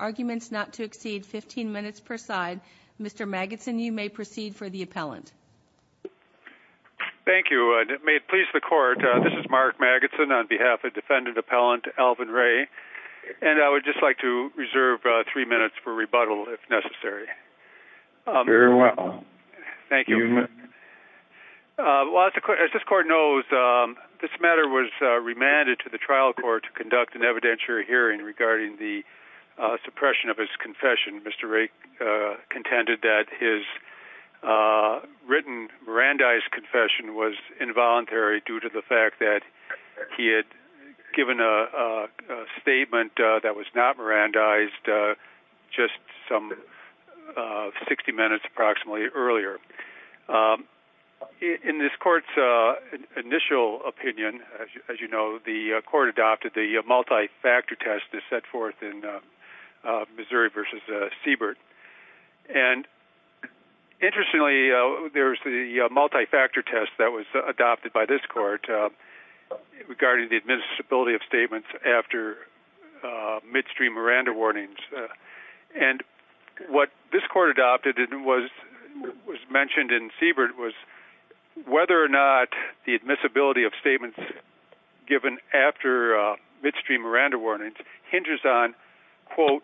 Arguments not to exceed 15 minutes per side. Mr. Magidson, you may proceed for the appellant. Thank you. May it please the court, this is Mark Magidson on behalf of defendant appellant Alvin Ray and I would just like to reserve three minutes for rebuttal if necessary. Very well. Thank you. As this court knows, this matter was remanded to the trial court to conduct an evidentiary hearing regarding the suppression of his confession. Mr. Ray contended that his written Mirandized confession was involuntary due to the fact that he had given a statement that was not Mirandized just some 60 minutes approximately earlier. In this court's initial opinion, as you know, the court adopted the multi-factor test that's set forth in Missouri v. Seabird. And interestingly, there's the multi-factor test that was adopted by this court regarding the admissibility of statements after midstream Miranda warnings. And what this court adopted and was mentioned in Seabird was whether or not the admissibility of statements given after midstream Miranda warnings hinges on, quote,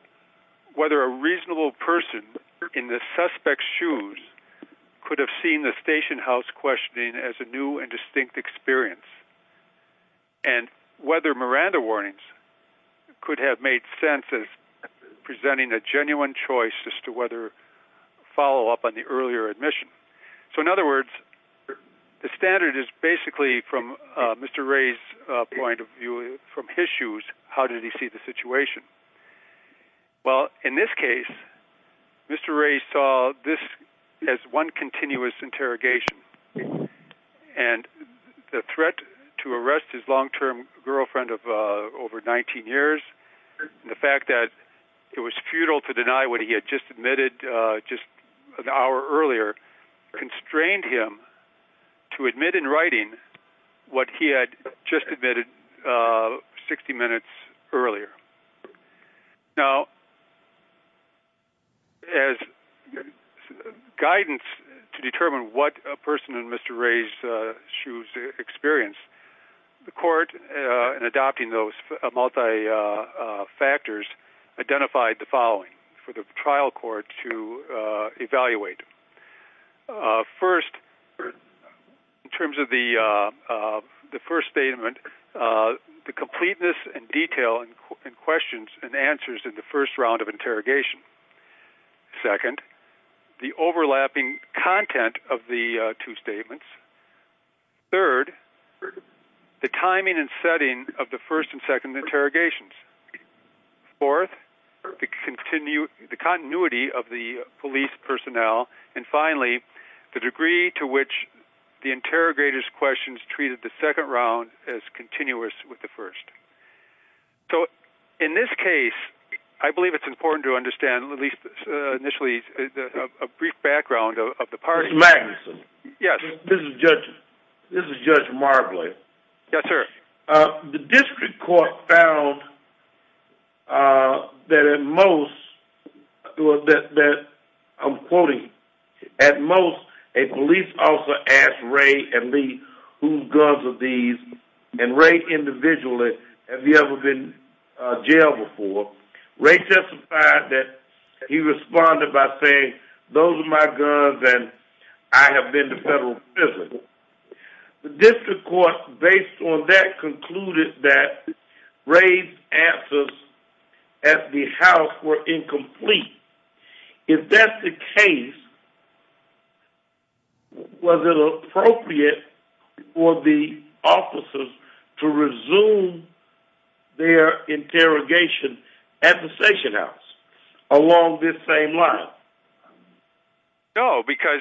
whether a reasonable person in the suspect's shoes could have seen the station house questioning as a new and distinct experience. And whether Miranda warnings could have made sense as presenting a genuine choice as to whether follow up on the earlier admission. So, in other words, the standard is basically from Mr. Ray's point of view, from his shoes, how did he see the situation? Well, in this case, Mr. Ray saw this as one continuous interrogation. And the threat to arrest his long-term girlfriend of over 19 years, the fact that it was futile to deny what he had just admitted just an hour earlier, constrained him to admit in writing what he had just admitted 60 minutes earlier. Now, as guidance to determine what a person in Mr. Ray's shoes experienced, the court, in adopting those multi-factors, identified the following for the trial court to evaluate. First, in terms of the first statement, the completeness and detail in questions and answers in the first round of interrogation. Second, the overlapping content of the two setting of the first and second interrogations. Fourth, the continuity of the police personnel. And finally, the degree to which the interrogators' questions treated the second round as continuous with the first. So, in this case, I believe it's important to understand, at least initially, a brief background of the parties. Mr. Magnuson. Yes. This is Judge Marbley. Yes, sir. The district court found that at most, or that, I'm quoting, at most, a police officer asked Ray and me whose guns are these, and Ray individually, have you ever been in jail before? Ray testified that he responded by saying, those are my guns and I have been to federal prison. The district court, based on that, concluded that Ray's answers at the house were incomplete. If that's the case, was it appropriate for the officers to resume their interrogation at the station house along this same line? No, because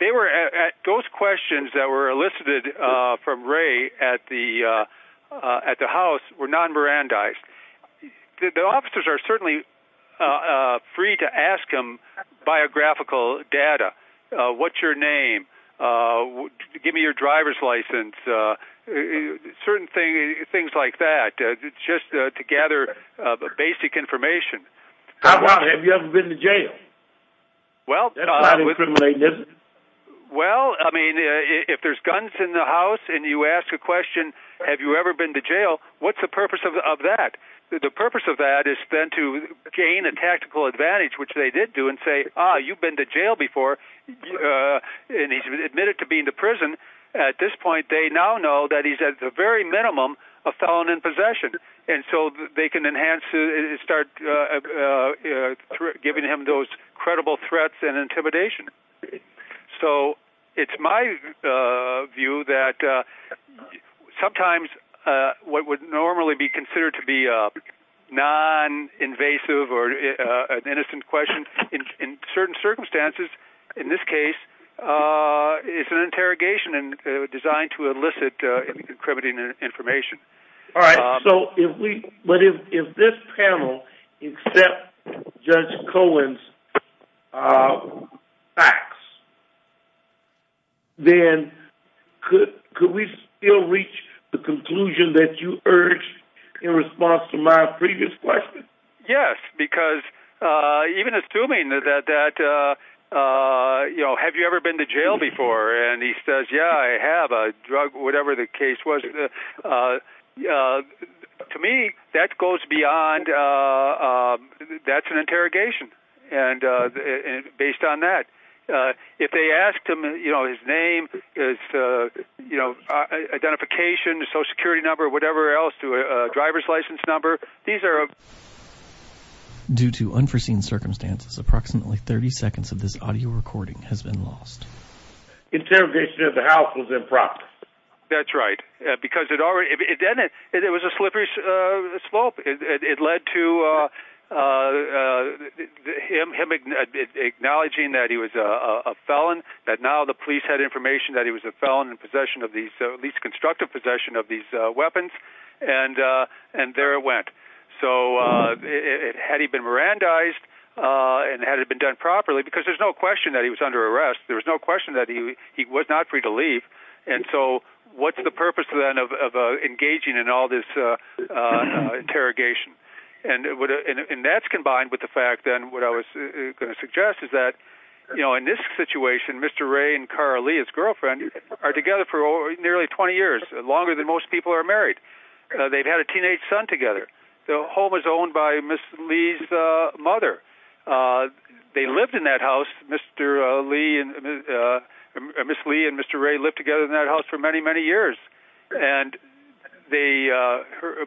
those questions that were elicited from Ray at the house were non-Mirandized. The officers are certainly free to ask him biographical data. What's your name? Give me your driver's license. Certain things like that, just to gather basic information. How about, have you ever been to jail? Well, I mean, if there's guns in the house and you ask a question, have you ever been to jail, what's the purpose of that? The purpose of that is then to gain a tactical advantage, which they did do, and say, ah, you've been to jail before, and he's been admitted to being in prison. At this point, they now know that he's at the very minimum a felon in possession, and so they can enhance it and start giving him those credible threats and intimidation. So it's my view that sometimes what would normally be considered to be a non-invasive or an innocent question, in certain circumstances, in this case, it's an interrogation designed to elicit incriminating information. But if this panel accepts Judge Cohen's facts, then could we still reach the conclusion that you urged in response to my previous question? Yes, because even assuming that, you know, have you ever been to jail before? And he says, yeah, I have a drug, whatever the case was. To me, that goes beyond, that's an interrogation. And based on that, if they asked him, you know, his name, his, you know, identification, social security number, whatever else to a driver's license number. These are due to unforeseen circumstances. Approximately 30 seconds of this audio recording has been lost. Interrogation at the house was impractical. That's right. Because it already, it was a slippery slope. It led to him acknowledging that he was a felon, that now the police had at least constructive possession of these weapons. And there it went. So had he been Mirandized and had it been done properly? Because there's no question that he was under arrest. There was no question that he was not free to leave. And so what's the purpose then of engaging in all this interrogation? And that's combined with the fact that what I was going to suggest is that, you know, in this situation, Mr. Ray and Cara Lee, his girlfriend, are together for nearly 20 years, longer than most people are married. They've had a teenage son together. The home is owned by Ms. Lee's mother. They lived in that house, Mr. Lee and Ms. Lee and Mr. Ray lived together in that house for many, many years. And they,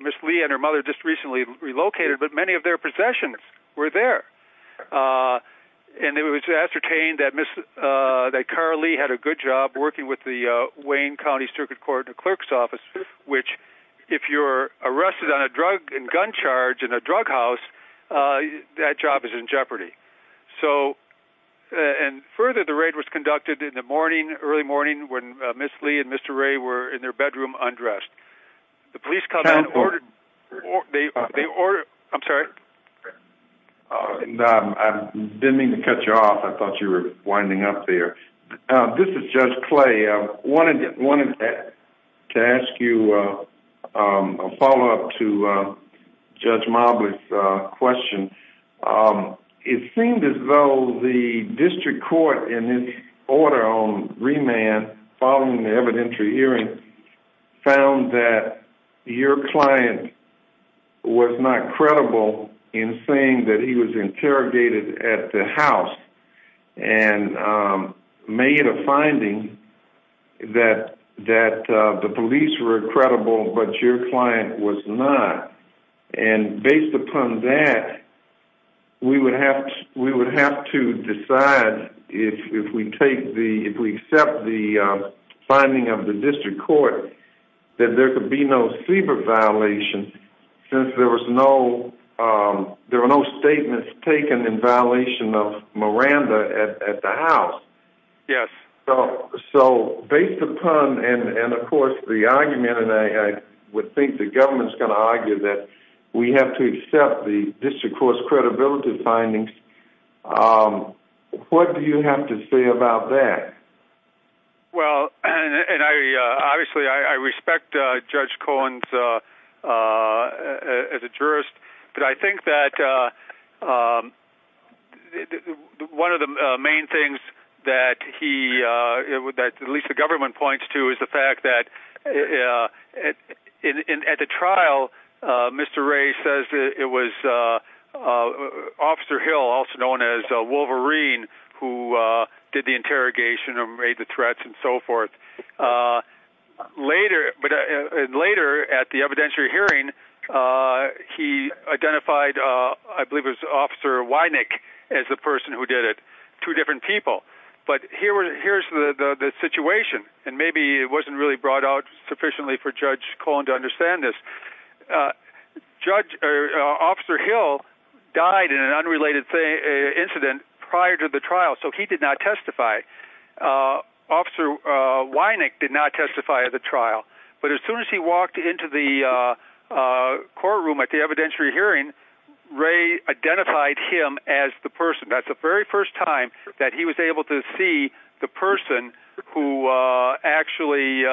Ms. Lee and her mother just recently relocated, but many of their possessions were there. And it was ascertained that Ms., that Cara Lee had a good job working with the Wayne County Circuit Court clerk's office, which if you're arrested on a drug and gun charge in a drug house, that job is in jeopardy. So, and further, the raid was conducted in the morning, early morning when Ms. Lee and Mr. Ray were in their bedroom undressed. The police called out, they ordered, I'm sorry. I didn't mean to cut you off. I thought you were winding up there. This is Judge Clay. I wanted to ask you a follow-up to Judge Mobley's question. It seemed as though the district court in its order on remand following the evidentiary hearing found that your client was not credible in saying that he was interrogated at the house and made a finding that the police were credible, but your client was not. And based upon that, we would have to decide if we take the, if we accept the finding of the district court, that there could be no CBER violation since there was no, there were no statements taken in violation of Miranda at the house. Yes. So based upon, and of course the argument, and I would think the government's going to argue that we have to accept the district court's credibility findings. What do you have to say about that? Well, and I, obviously I respect Judge Cohen's, as a jurist, but I think that one of the main things that he, that at least the government points to is the fact that at the trial, Mr. Wray says it was Officer Hill, also known as Wolverine, who did the interrogation or made the threats and so forth. Later at the evidentiary hearing, he identified, I believe it was Officer Wynick as the person who did it, two different people. But here's the situation, and maybe it wasn't really brought out sufficiently for Judge Cohen to understand this. Officer Hill died in an unrelated incident prior to the trial, so he did not testify. Officer Wynick did not testify at the trial, but as soon as he walked into the courtroom at the evidentiary hearing, Wray identified him as the person. That's the very first time that he was able to see the person who actually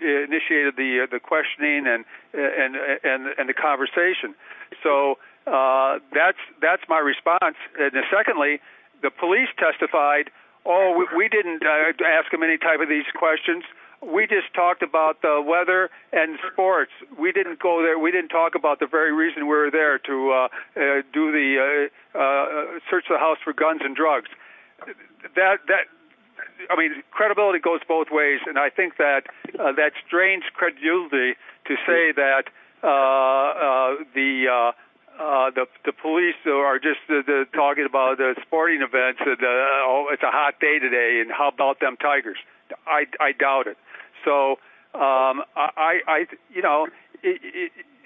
initiated the questioning and the conversation. So that's my response. Secondly, the police testified, oh, we didn't ask him any type of these questions. We just talked about the weather and sports. We didn't talk about the very reason we were there to search the house for guns and drugs. I mean, credibility goes both ways, and I think that strains credulity to say that the police are just talking about the sporting events, oh, it's a hot day today, and how about them tigers? I doubt it. So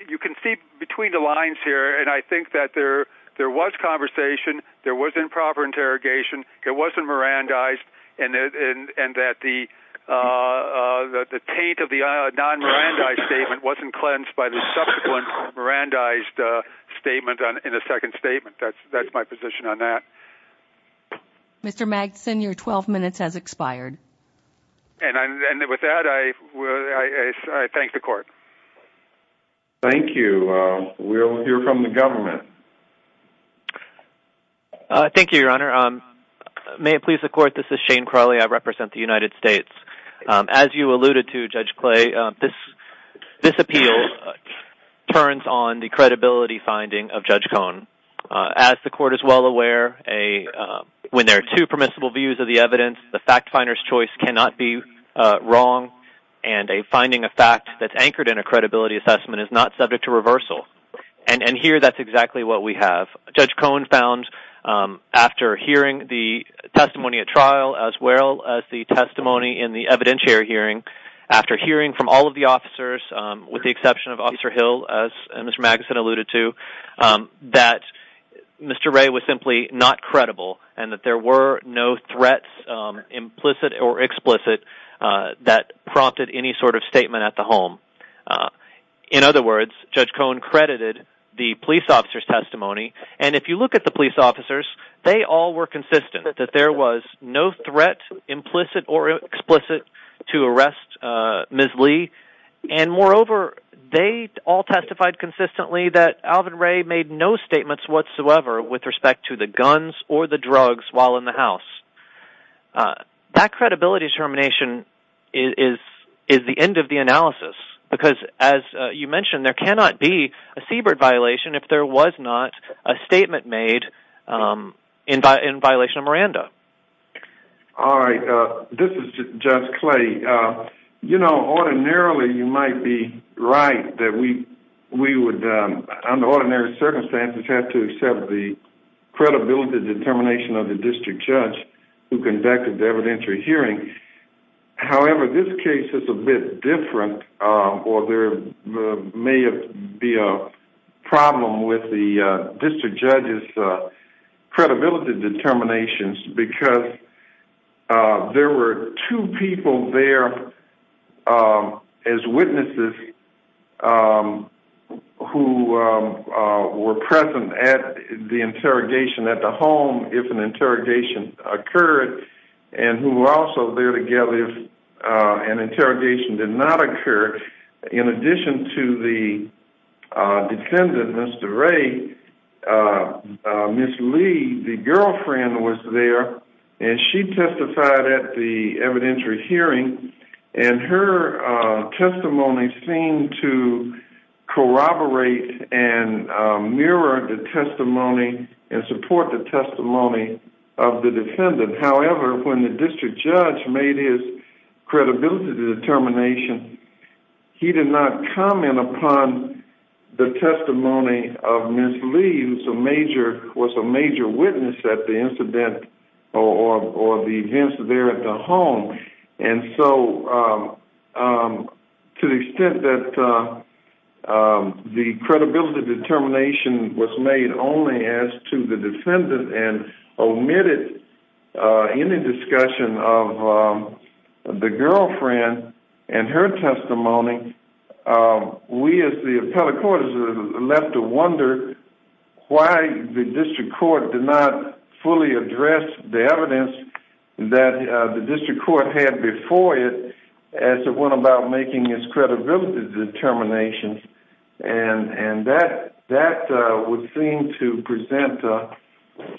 you can see between the lines here, and I think that there was conversation, there was improper interrogation, it wasn't Mirandized, and that the taint of the non-Mirandized statement wasn't cleansed by the subsequent Mirandized statement in the second statement. That's my position on that. Mr. Magson, your 12 minutes has expired. And with that, I thank the court. Thank you. We'll hear from the government. Thank you, Your Honor. May it please the court, this is Shane Crawley. I represent the United States. As you alluded to, Judge Clay, this appeal turns on the credibility finding of Judge Cohn. As the court is well aware, when there are two permissible views of the evidence, the fact finder's choice cannot be wrong, and a finding of fact that's anchored in a credibility assessment is not subject to reversal. And here, that's exactly what we have. Judge Cohn found, after hearing the testimony at trial, as well as the testimony in the evidentiary hearing, after hearing from all of the officers, with the exception of Officer Hill, as Mr. Magson alluded to, that Mr. Wray was simply not credible, and that there were no threats, implicit or explicit, that prompted any sort of statement at the home. In other words, Judge Cohn credited the police officers. They all were consistent that there was no threat, implicit or explicit, to arrest Ms. Lee, and moreover, they all testified consistently that Alvin Wray made no statements whatsoever with respect to the guns or the drugs while in the house. That credibility determination is the end of the analysis, because as you mentioned, there cannot be a Siebert violation if there was not a statement made in violation of Miranda. All right. This is Judge Clay. You know, ordinarily, you might be right that we would, under ordinary circumstances, have to accept the credibility determination of the district judge who conducted the evidentiary hearing. However, this case is a bit different, or there may be a problem with the district judge's credibility determinations, because there were two people there as witnesses who were present at the interrogation at the home if an interrogation occurred, and who were also there together if an interrogation did not occur, in addition to the defendant, Mr. Wray. Ms. Lee, the girlfriend, was there, and she testified at the evidentiary hearing, and her testimony seemed to corroborate and mirror the testimony and support the testimony of the defendant. However, when the district judge made his credibility determination, he did not comment upon the testimony of Ms. Lee, who was a major witness at the incident or the events there at the home. To the extent that the credibility determination was made only as to the defendant and omitted any discussion of the girlfriend and her testimony, we as the appellate court is left to wonder why the district court did not fully address the evidence that the district court had before it as it went about making its credibility determinations, and that would seem to present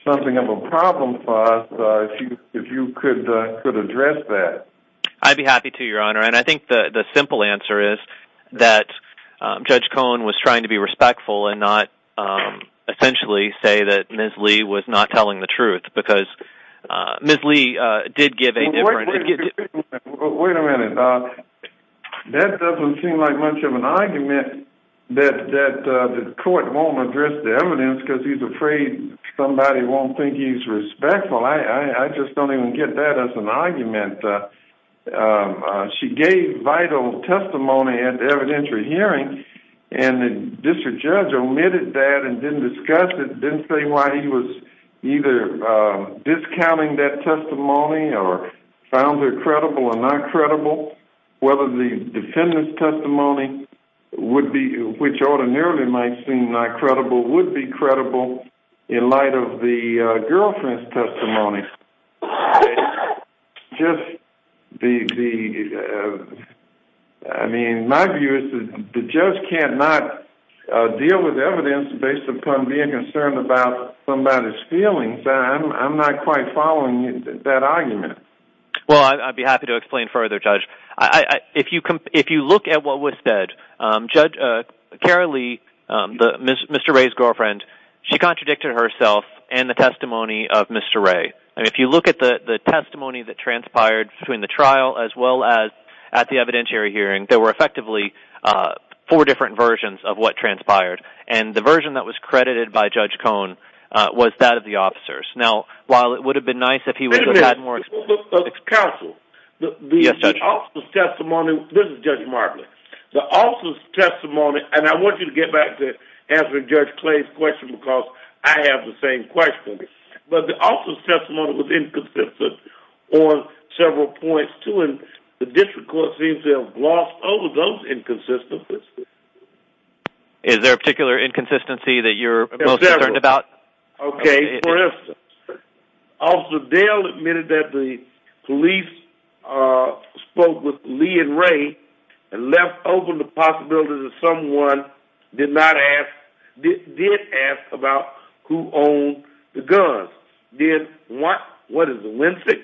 something of a problem for us if you could address that. I'd be happy to, Your Honor, and I think the simple answer is that Judge Cohen was trying to be respectful and not essentially say that Ms. Lee was not telling the truth. That doesn't seem like much of an argument that the court won't address the evidence because he's afraid somebody won't think he's respectful. I just don't even get that as an argument. She gave vital testimony at the evidentiary hearing, and the district judge omitted that and didn't discuss it, didn't say why he was either discounting that testimony or found her credible or not credible, whether the defendant's testimony, which ordinarily might seem not credible, would be credible in light of the girlfriend's testimony. My view is the judge cannot deal with evidence based upon being concerned about somebody's feelings. I'm not following that argument. Well, I'd be happy to explain further, Judge. If you look at what was said, Judge, Kara Lee, Mr. Ray's girlfriend, she contradicted herself and the testimony of Mr. Ray. If you look at the testimony that transpired between the trial as well as at the evidentiary hearing, there were effectively four different versions of what transpired, and the version that Judge Cone was that of the officers. Now, while it would have been nice if he would have had more counsel, the officer's testimony, and I want you to get back to answering Judge Clay's question because I have the same question, but the officer's testimony was inconsistent on several points, too, and the district court seems to have glossed over those inconsistencies. Is there a particular inconsistency that you're most concerned about? Okay, for instance, Officer Dale admitted that the police spoke with Lee and Ray and left open the possibility that someone did not ask, did ask about who owned the guns, did what, what is it, Wednesday,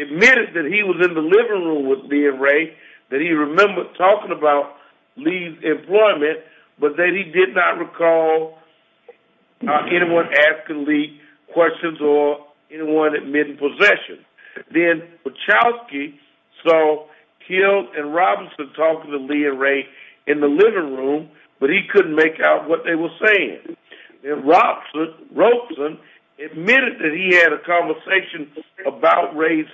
admitted that he was in the living room with Lee and Ray, that he remembered talking about employment, but that he did not recall anyone asking Lee questions or anyone admitting possession. Then Wachowski saw Kild and Robinson talking to Lee and Ray in the living room, but he couldn't make out what they were saying. Then Robson admitted that he had a conversation about Ray's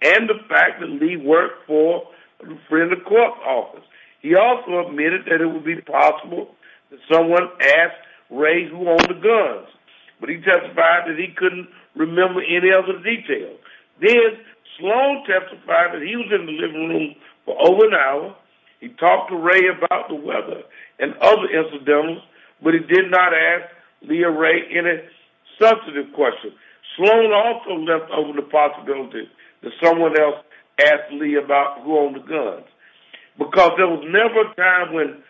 and the fact that Lee worked for a friend of the court's office. He also admitted that it would be possible that someone asked Ray who owned the guns, but he testified that he couldn't remember any other details. Then Sloan testified that he was in the living room for over an hour. He talked to Ray about the weather and other incidentals, but he did not ask Lee or Ray any substantive questions. Sloan also left open the possibility that someone else asked Lee about who owned the guns, because there was never a time when,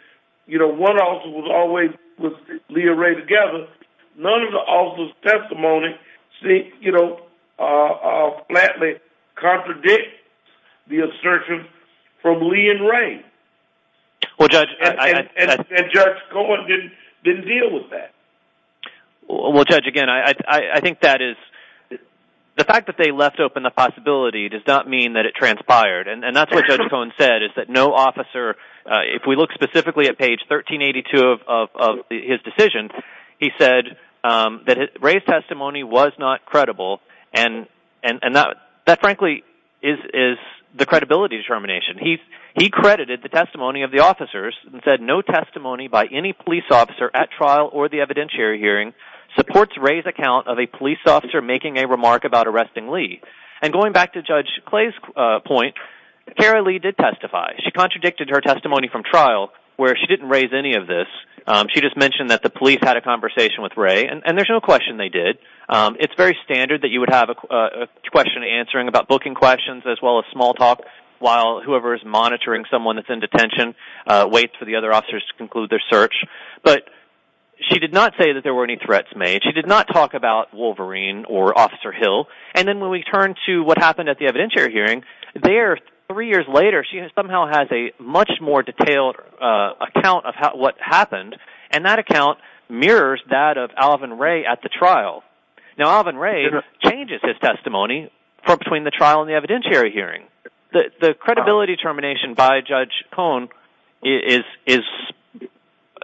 you know, one officer was always with Lee and Ray together. None of the officers' testimony, you know, flatly contradict the assertion from Lee and Ray. And Judge Cohen didn't deal with that. Well, Judge, again, I think that is... The fact that they left open the possibility does not mean that it transpired, and that's what Judge Cohen said, is that no officer... If we look specifically at page 1382 of his decision, he said that Ray's testimony was not credible, and that frankly is the credibility determination. He credited the testimony of the officers and said no testimony by any police officer at trial or the evidentiary hearing supports Ray's account of a police officer making a remark about arresting Lee. And going back to Judge Clay's point, Kara Lee did testify. She contradicted her testimony from trial, where she didn't raise any of this. She just mentioned that the police had a conversation with Ray, and there's no question they did. It's very standard that you would have a question answering about booking questions as well as small talk while whoever is monitoring someone that's in detention waits for the other officers to conclude their search. But she did not say that there were any threats made. She did not talk about Wolverine or Officer Hill. And then when we turn to what happened at the evidentiary hearing, there, three years later, she somehow has a much more detailed account of what happened, and that account mirrors that of Alvin Ray at the point between the trial and the evidentiary hearing. The credibility determination by Judge Cohn is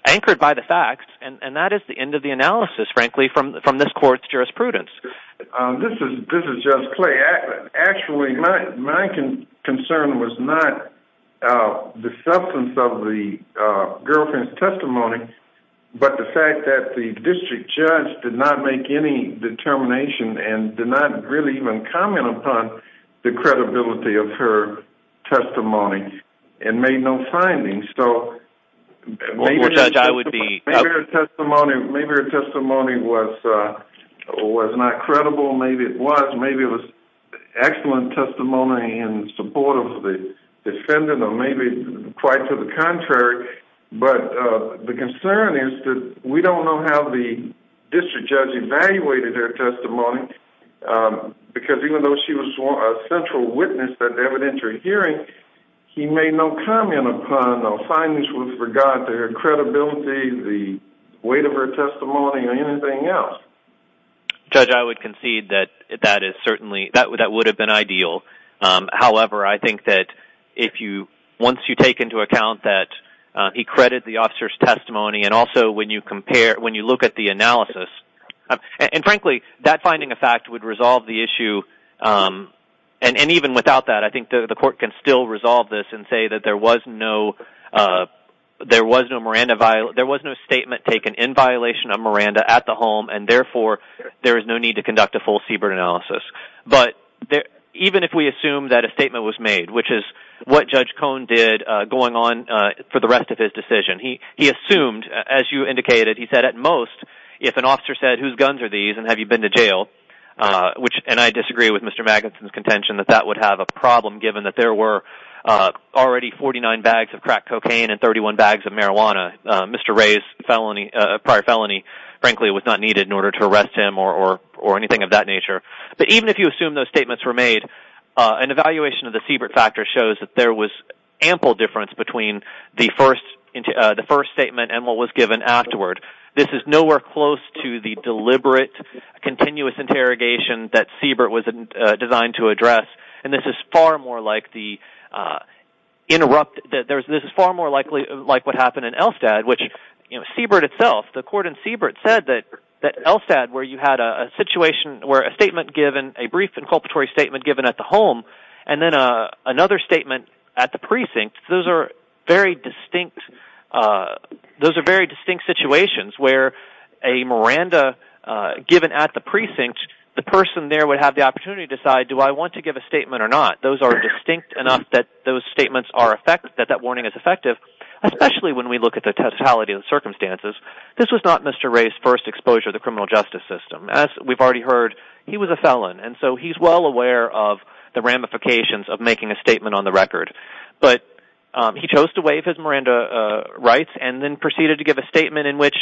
anchored by the facts, and that is the end of the analysis, frankly, from this court's jurisprudence. This is Judge Clay. Actually, my concern was not the substance of the girlfriend's testimony, but the fact that the district judge did not make any determination and did not really comment upon the credibility of her testimony and made no findings. So maybe her testimony was not credible. Maybe it was. Maybe it was excellent testimony in support of the defendant, or maybe quite to the contrary. But the concern is that we don't know how the district judge evaluated her testimony, because even though she was a central witness at the evidentiary hearing, he made no comment upon the findings with regard to her credibility, the weight of her testimony, or anything else. Judge, I would concede that that would have been ideal. However, I think that once you take into account that he credited the officer's testimony, and also when you look at the analysis, and frankly, that finding of fact would resolve the issue. And even without that, I think that the court can still resolve this and say that there was no statement taken in violation of Miranda at the home, and therefore, there is no need to conduct a full Siebert analysis. But even if we assume that a statement was made, which is what Judge Cohn did going on for the rest of his decision, he assumed, as you indicated, he said, at most, if an officer said, whose guns are these and have you been to jail, and I disagree with Mr. Magnuson's contention that that would have a problem, given that there were already 49 bags of crack cocaine and 31 bags of marijuana. Mr. Ray's prior felony, frankly, was not needed in order to arrest him or anything of that nature. But even if you assume those statements were made, an evaluation of the Siebert factor shows that there was ample difference between the first statement and what was given afterward. This is nowhere close to the deliberate continuous interrogation that Siebert was designed to address, and this is far more likely like what happened in Elstad, which Siebert itself, the court in Siebert said that Elstad, where you had a situation where a statement given, a brief inculpatory statement given at the home, and then another statement at the precinct, those are very distinct situations where a Miranda given at the precinct, the person there would have the opportunity to decide, do I want to give a statement or not? Those are distinct enough that those statements are effective, that that warning is effective, especially when we look at the totality of the circumstances. This was not Mr. Ray's first exposure to the criminal justice system. As we've already heard, he was a felon, and so he's well aware of the ramifications of making a statement on the record. But he chose to waive his Miranda rights and then proceeded to give a statement in which,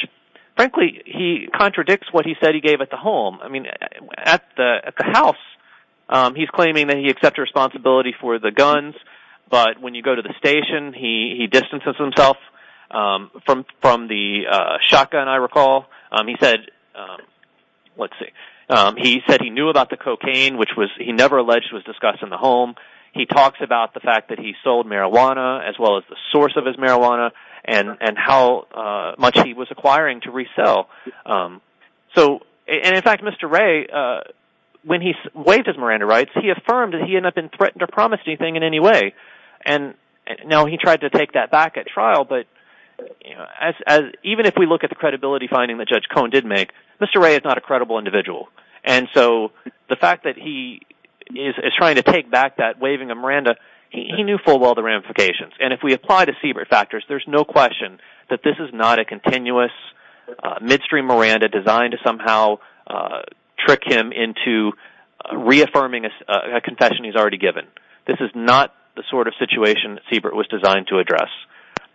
frankly, he contradicts what he said he gave at the home. I mean, at the house, he's claiming that he accepts responsibility for the guns, but when you go to the station, he distances himself from the shotgun, I recall. He said he knew about the cocaine, which he never alleged was discussed in the home. He talks about the fact that he sold marijuana as well as the source of his marijuana and how much he was acquiring to resell. In fact, Mr. Ray, when he waived his Miranda rights, he affirmed that he had not been threatened or promised anything in any way. Now, he tried to take that back at trial, but even if we look at the credibility finding that Judge Cohen did make, Mr. Ray is not a credible individual. And so the fact that he is trying to take back that waiving of Miranda, he knew full well the ramifications. And if we apply the Siebert factors, there's no question that this is not a continuous midstream Miranda designed to somehow trick him into reaffirming a confession he's already given. This is not the sort of situation that Siebert was designed to address.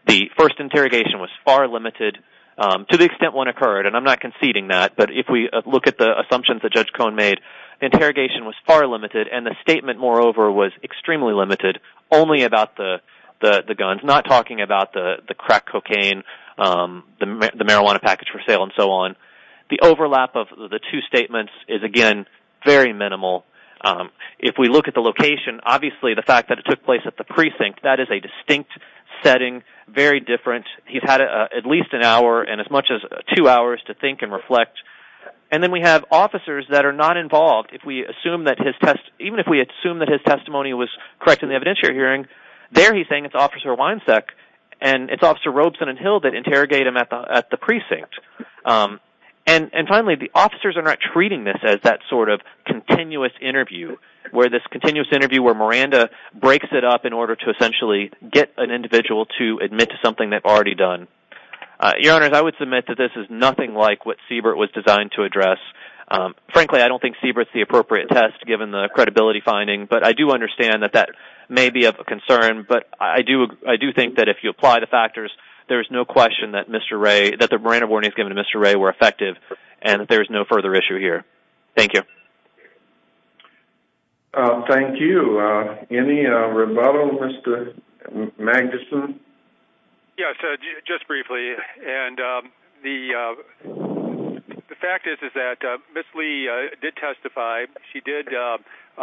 The first interrogation was far limited to the extent one occurred, and I'm not conceding that, but if we look at the assumptions that Judge Cohen made, interrogation was far limited, and the statement, moreover, was extremely limited, only about the guns, not talking about the crack cocaine, the marijuana package for sale and so on. The overlap of the two statements is, again, very minimal. If we look at the location, obviously the fact that it took place at the precinct, that is a distinct setting, very different. He's had at least an hour and as much as two hours to think and reflect. And then we have officers that are not involved. Even if we assume that his testimony was correct in the evidentiary hearing, there he's saying it's Officer Weinsack, and it's Officer Robeson and Hill that interrogate him at the precinct. And finally, the officers are not treating this as that sort of continuous interview, where this continuous interview where Miranda breaks it up in order to essentially get an individual to admit to something they've already done. Your Honor, I would submit that this is nothing like what Siebert was designed to address. Frankly, I don't think Siebert's the appropriate test, given the credibility finding, but I do understand that that may be of concern, but I do think that if you apply the factors, there's no question that the Miranda warnings given to Mr. Ray were effective, and there's no further issue here. Thank you. Thank you. Any rebuttal, Mr. Magnuson? Yes, just briefly. And the fact is that Ms. Lee did testify. She did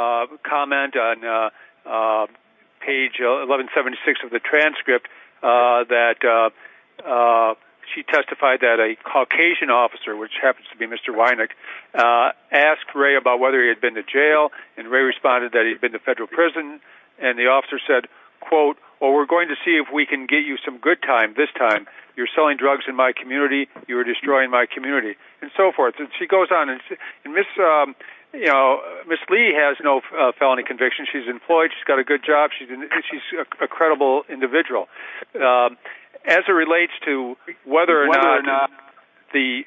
comment on page 1176 of the transcript that she testified that a Caucasian officer, which happens to be Mr. and Ray responded that he'd been to federal prison, and the officer said, quote, well, we're going to see if we can get you some good time this time. You're selling drugs in my community. You're destroying my community, and so forth. And she goes on, and Ms. Lee has no felony conviction. She's employed. She's got a good job. She's a credible individual. As it relates to whether or not the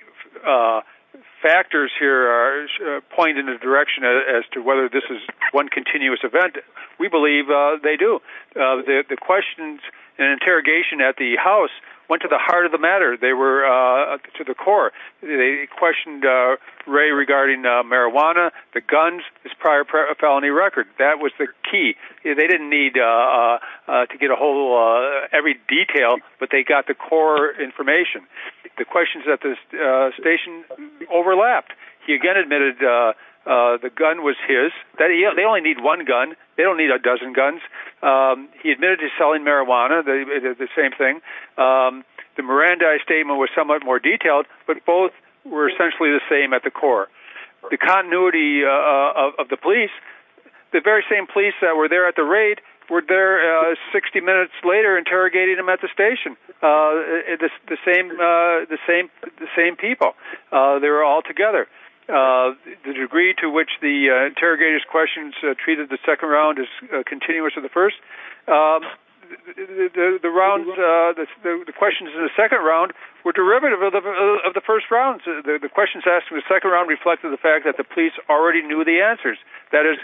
factors here point in a direction as to whether this is one continuous event, we believe they do. The questions and interrogation at the house went to the heart of the matter. They were to the core. They questioned Ray regarding marijuana, the guns, his prior felony record. That was the key. They didn't need to get a whole, every detail, but they got the core information. The questions at the station overlapped. He again admitted the gun was his. They only need one gun. They don't need a dozen guns. He admitted to selling marijuana. They did the same thing. The Mirandai statement was somewhat more detailed, but both were essentially the same at the core. The continuity of the police, the very same police that were there at were there 60 minutes later interrogating him at the station, the same people. They were all together. The degree to which the interrogators' questions treated the second round as continuous of the first, the questions in the second round were derivative of the first round. The questions asked in the second round reflected the fact that the police already knew the answers. That is,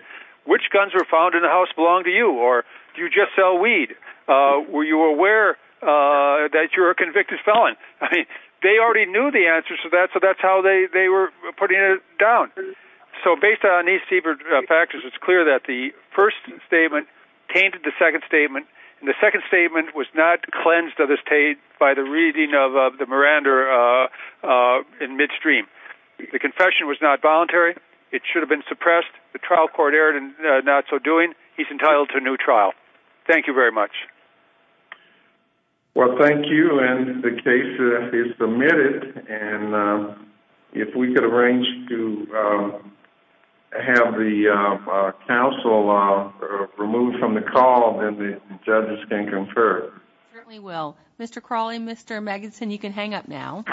which guns were found in the house belong to you, or do you just sell weed? Were you aware that you're a convicted felon? They already knew the answers to that, so that's how they were putting it down. Based on these factors, it's clear that the first statement tainted the second statement, and the second statement was not cleansed of this taint by the reading of the Miranda in midstream. The confession was not voluntary. It should have been suppressed. The trial court erred in not so doing. He's entitled to a new trial. Thank you very much. Well, thank you, and the case is submitted, and if we could arrange to have the counsel removed from the call, then the judges can confer. Certainly will. Mr. Crawley, Mr. Magidson, you can hang up now.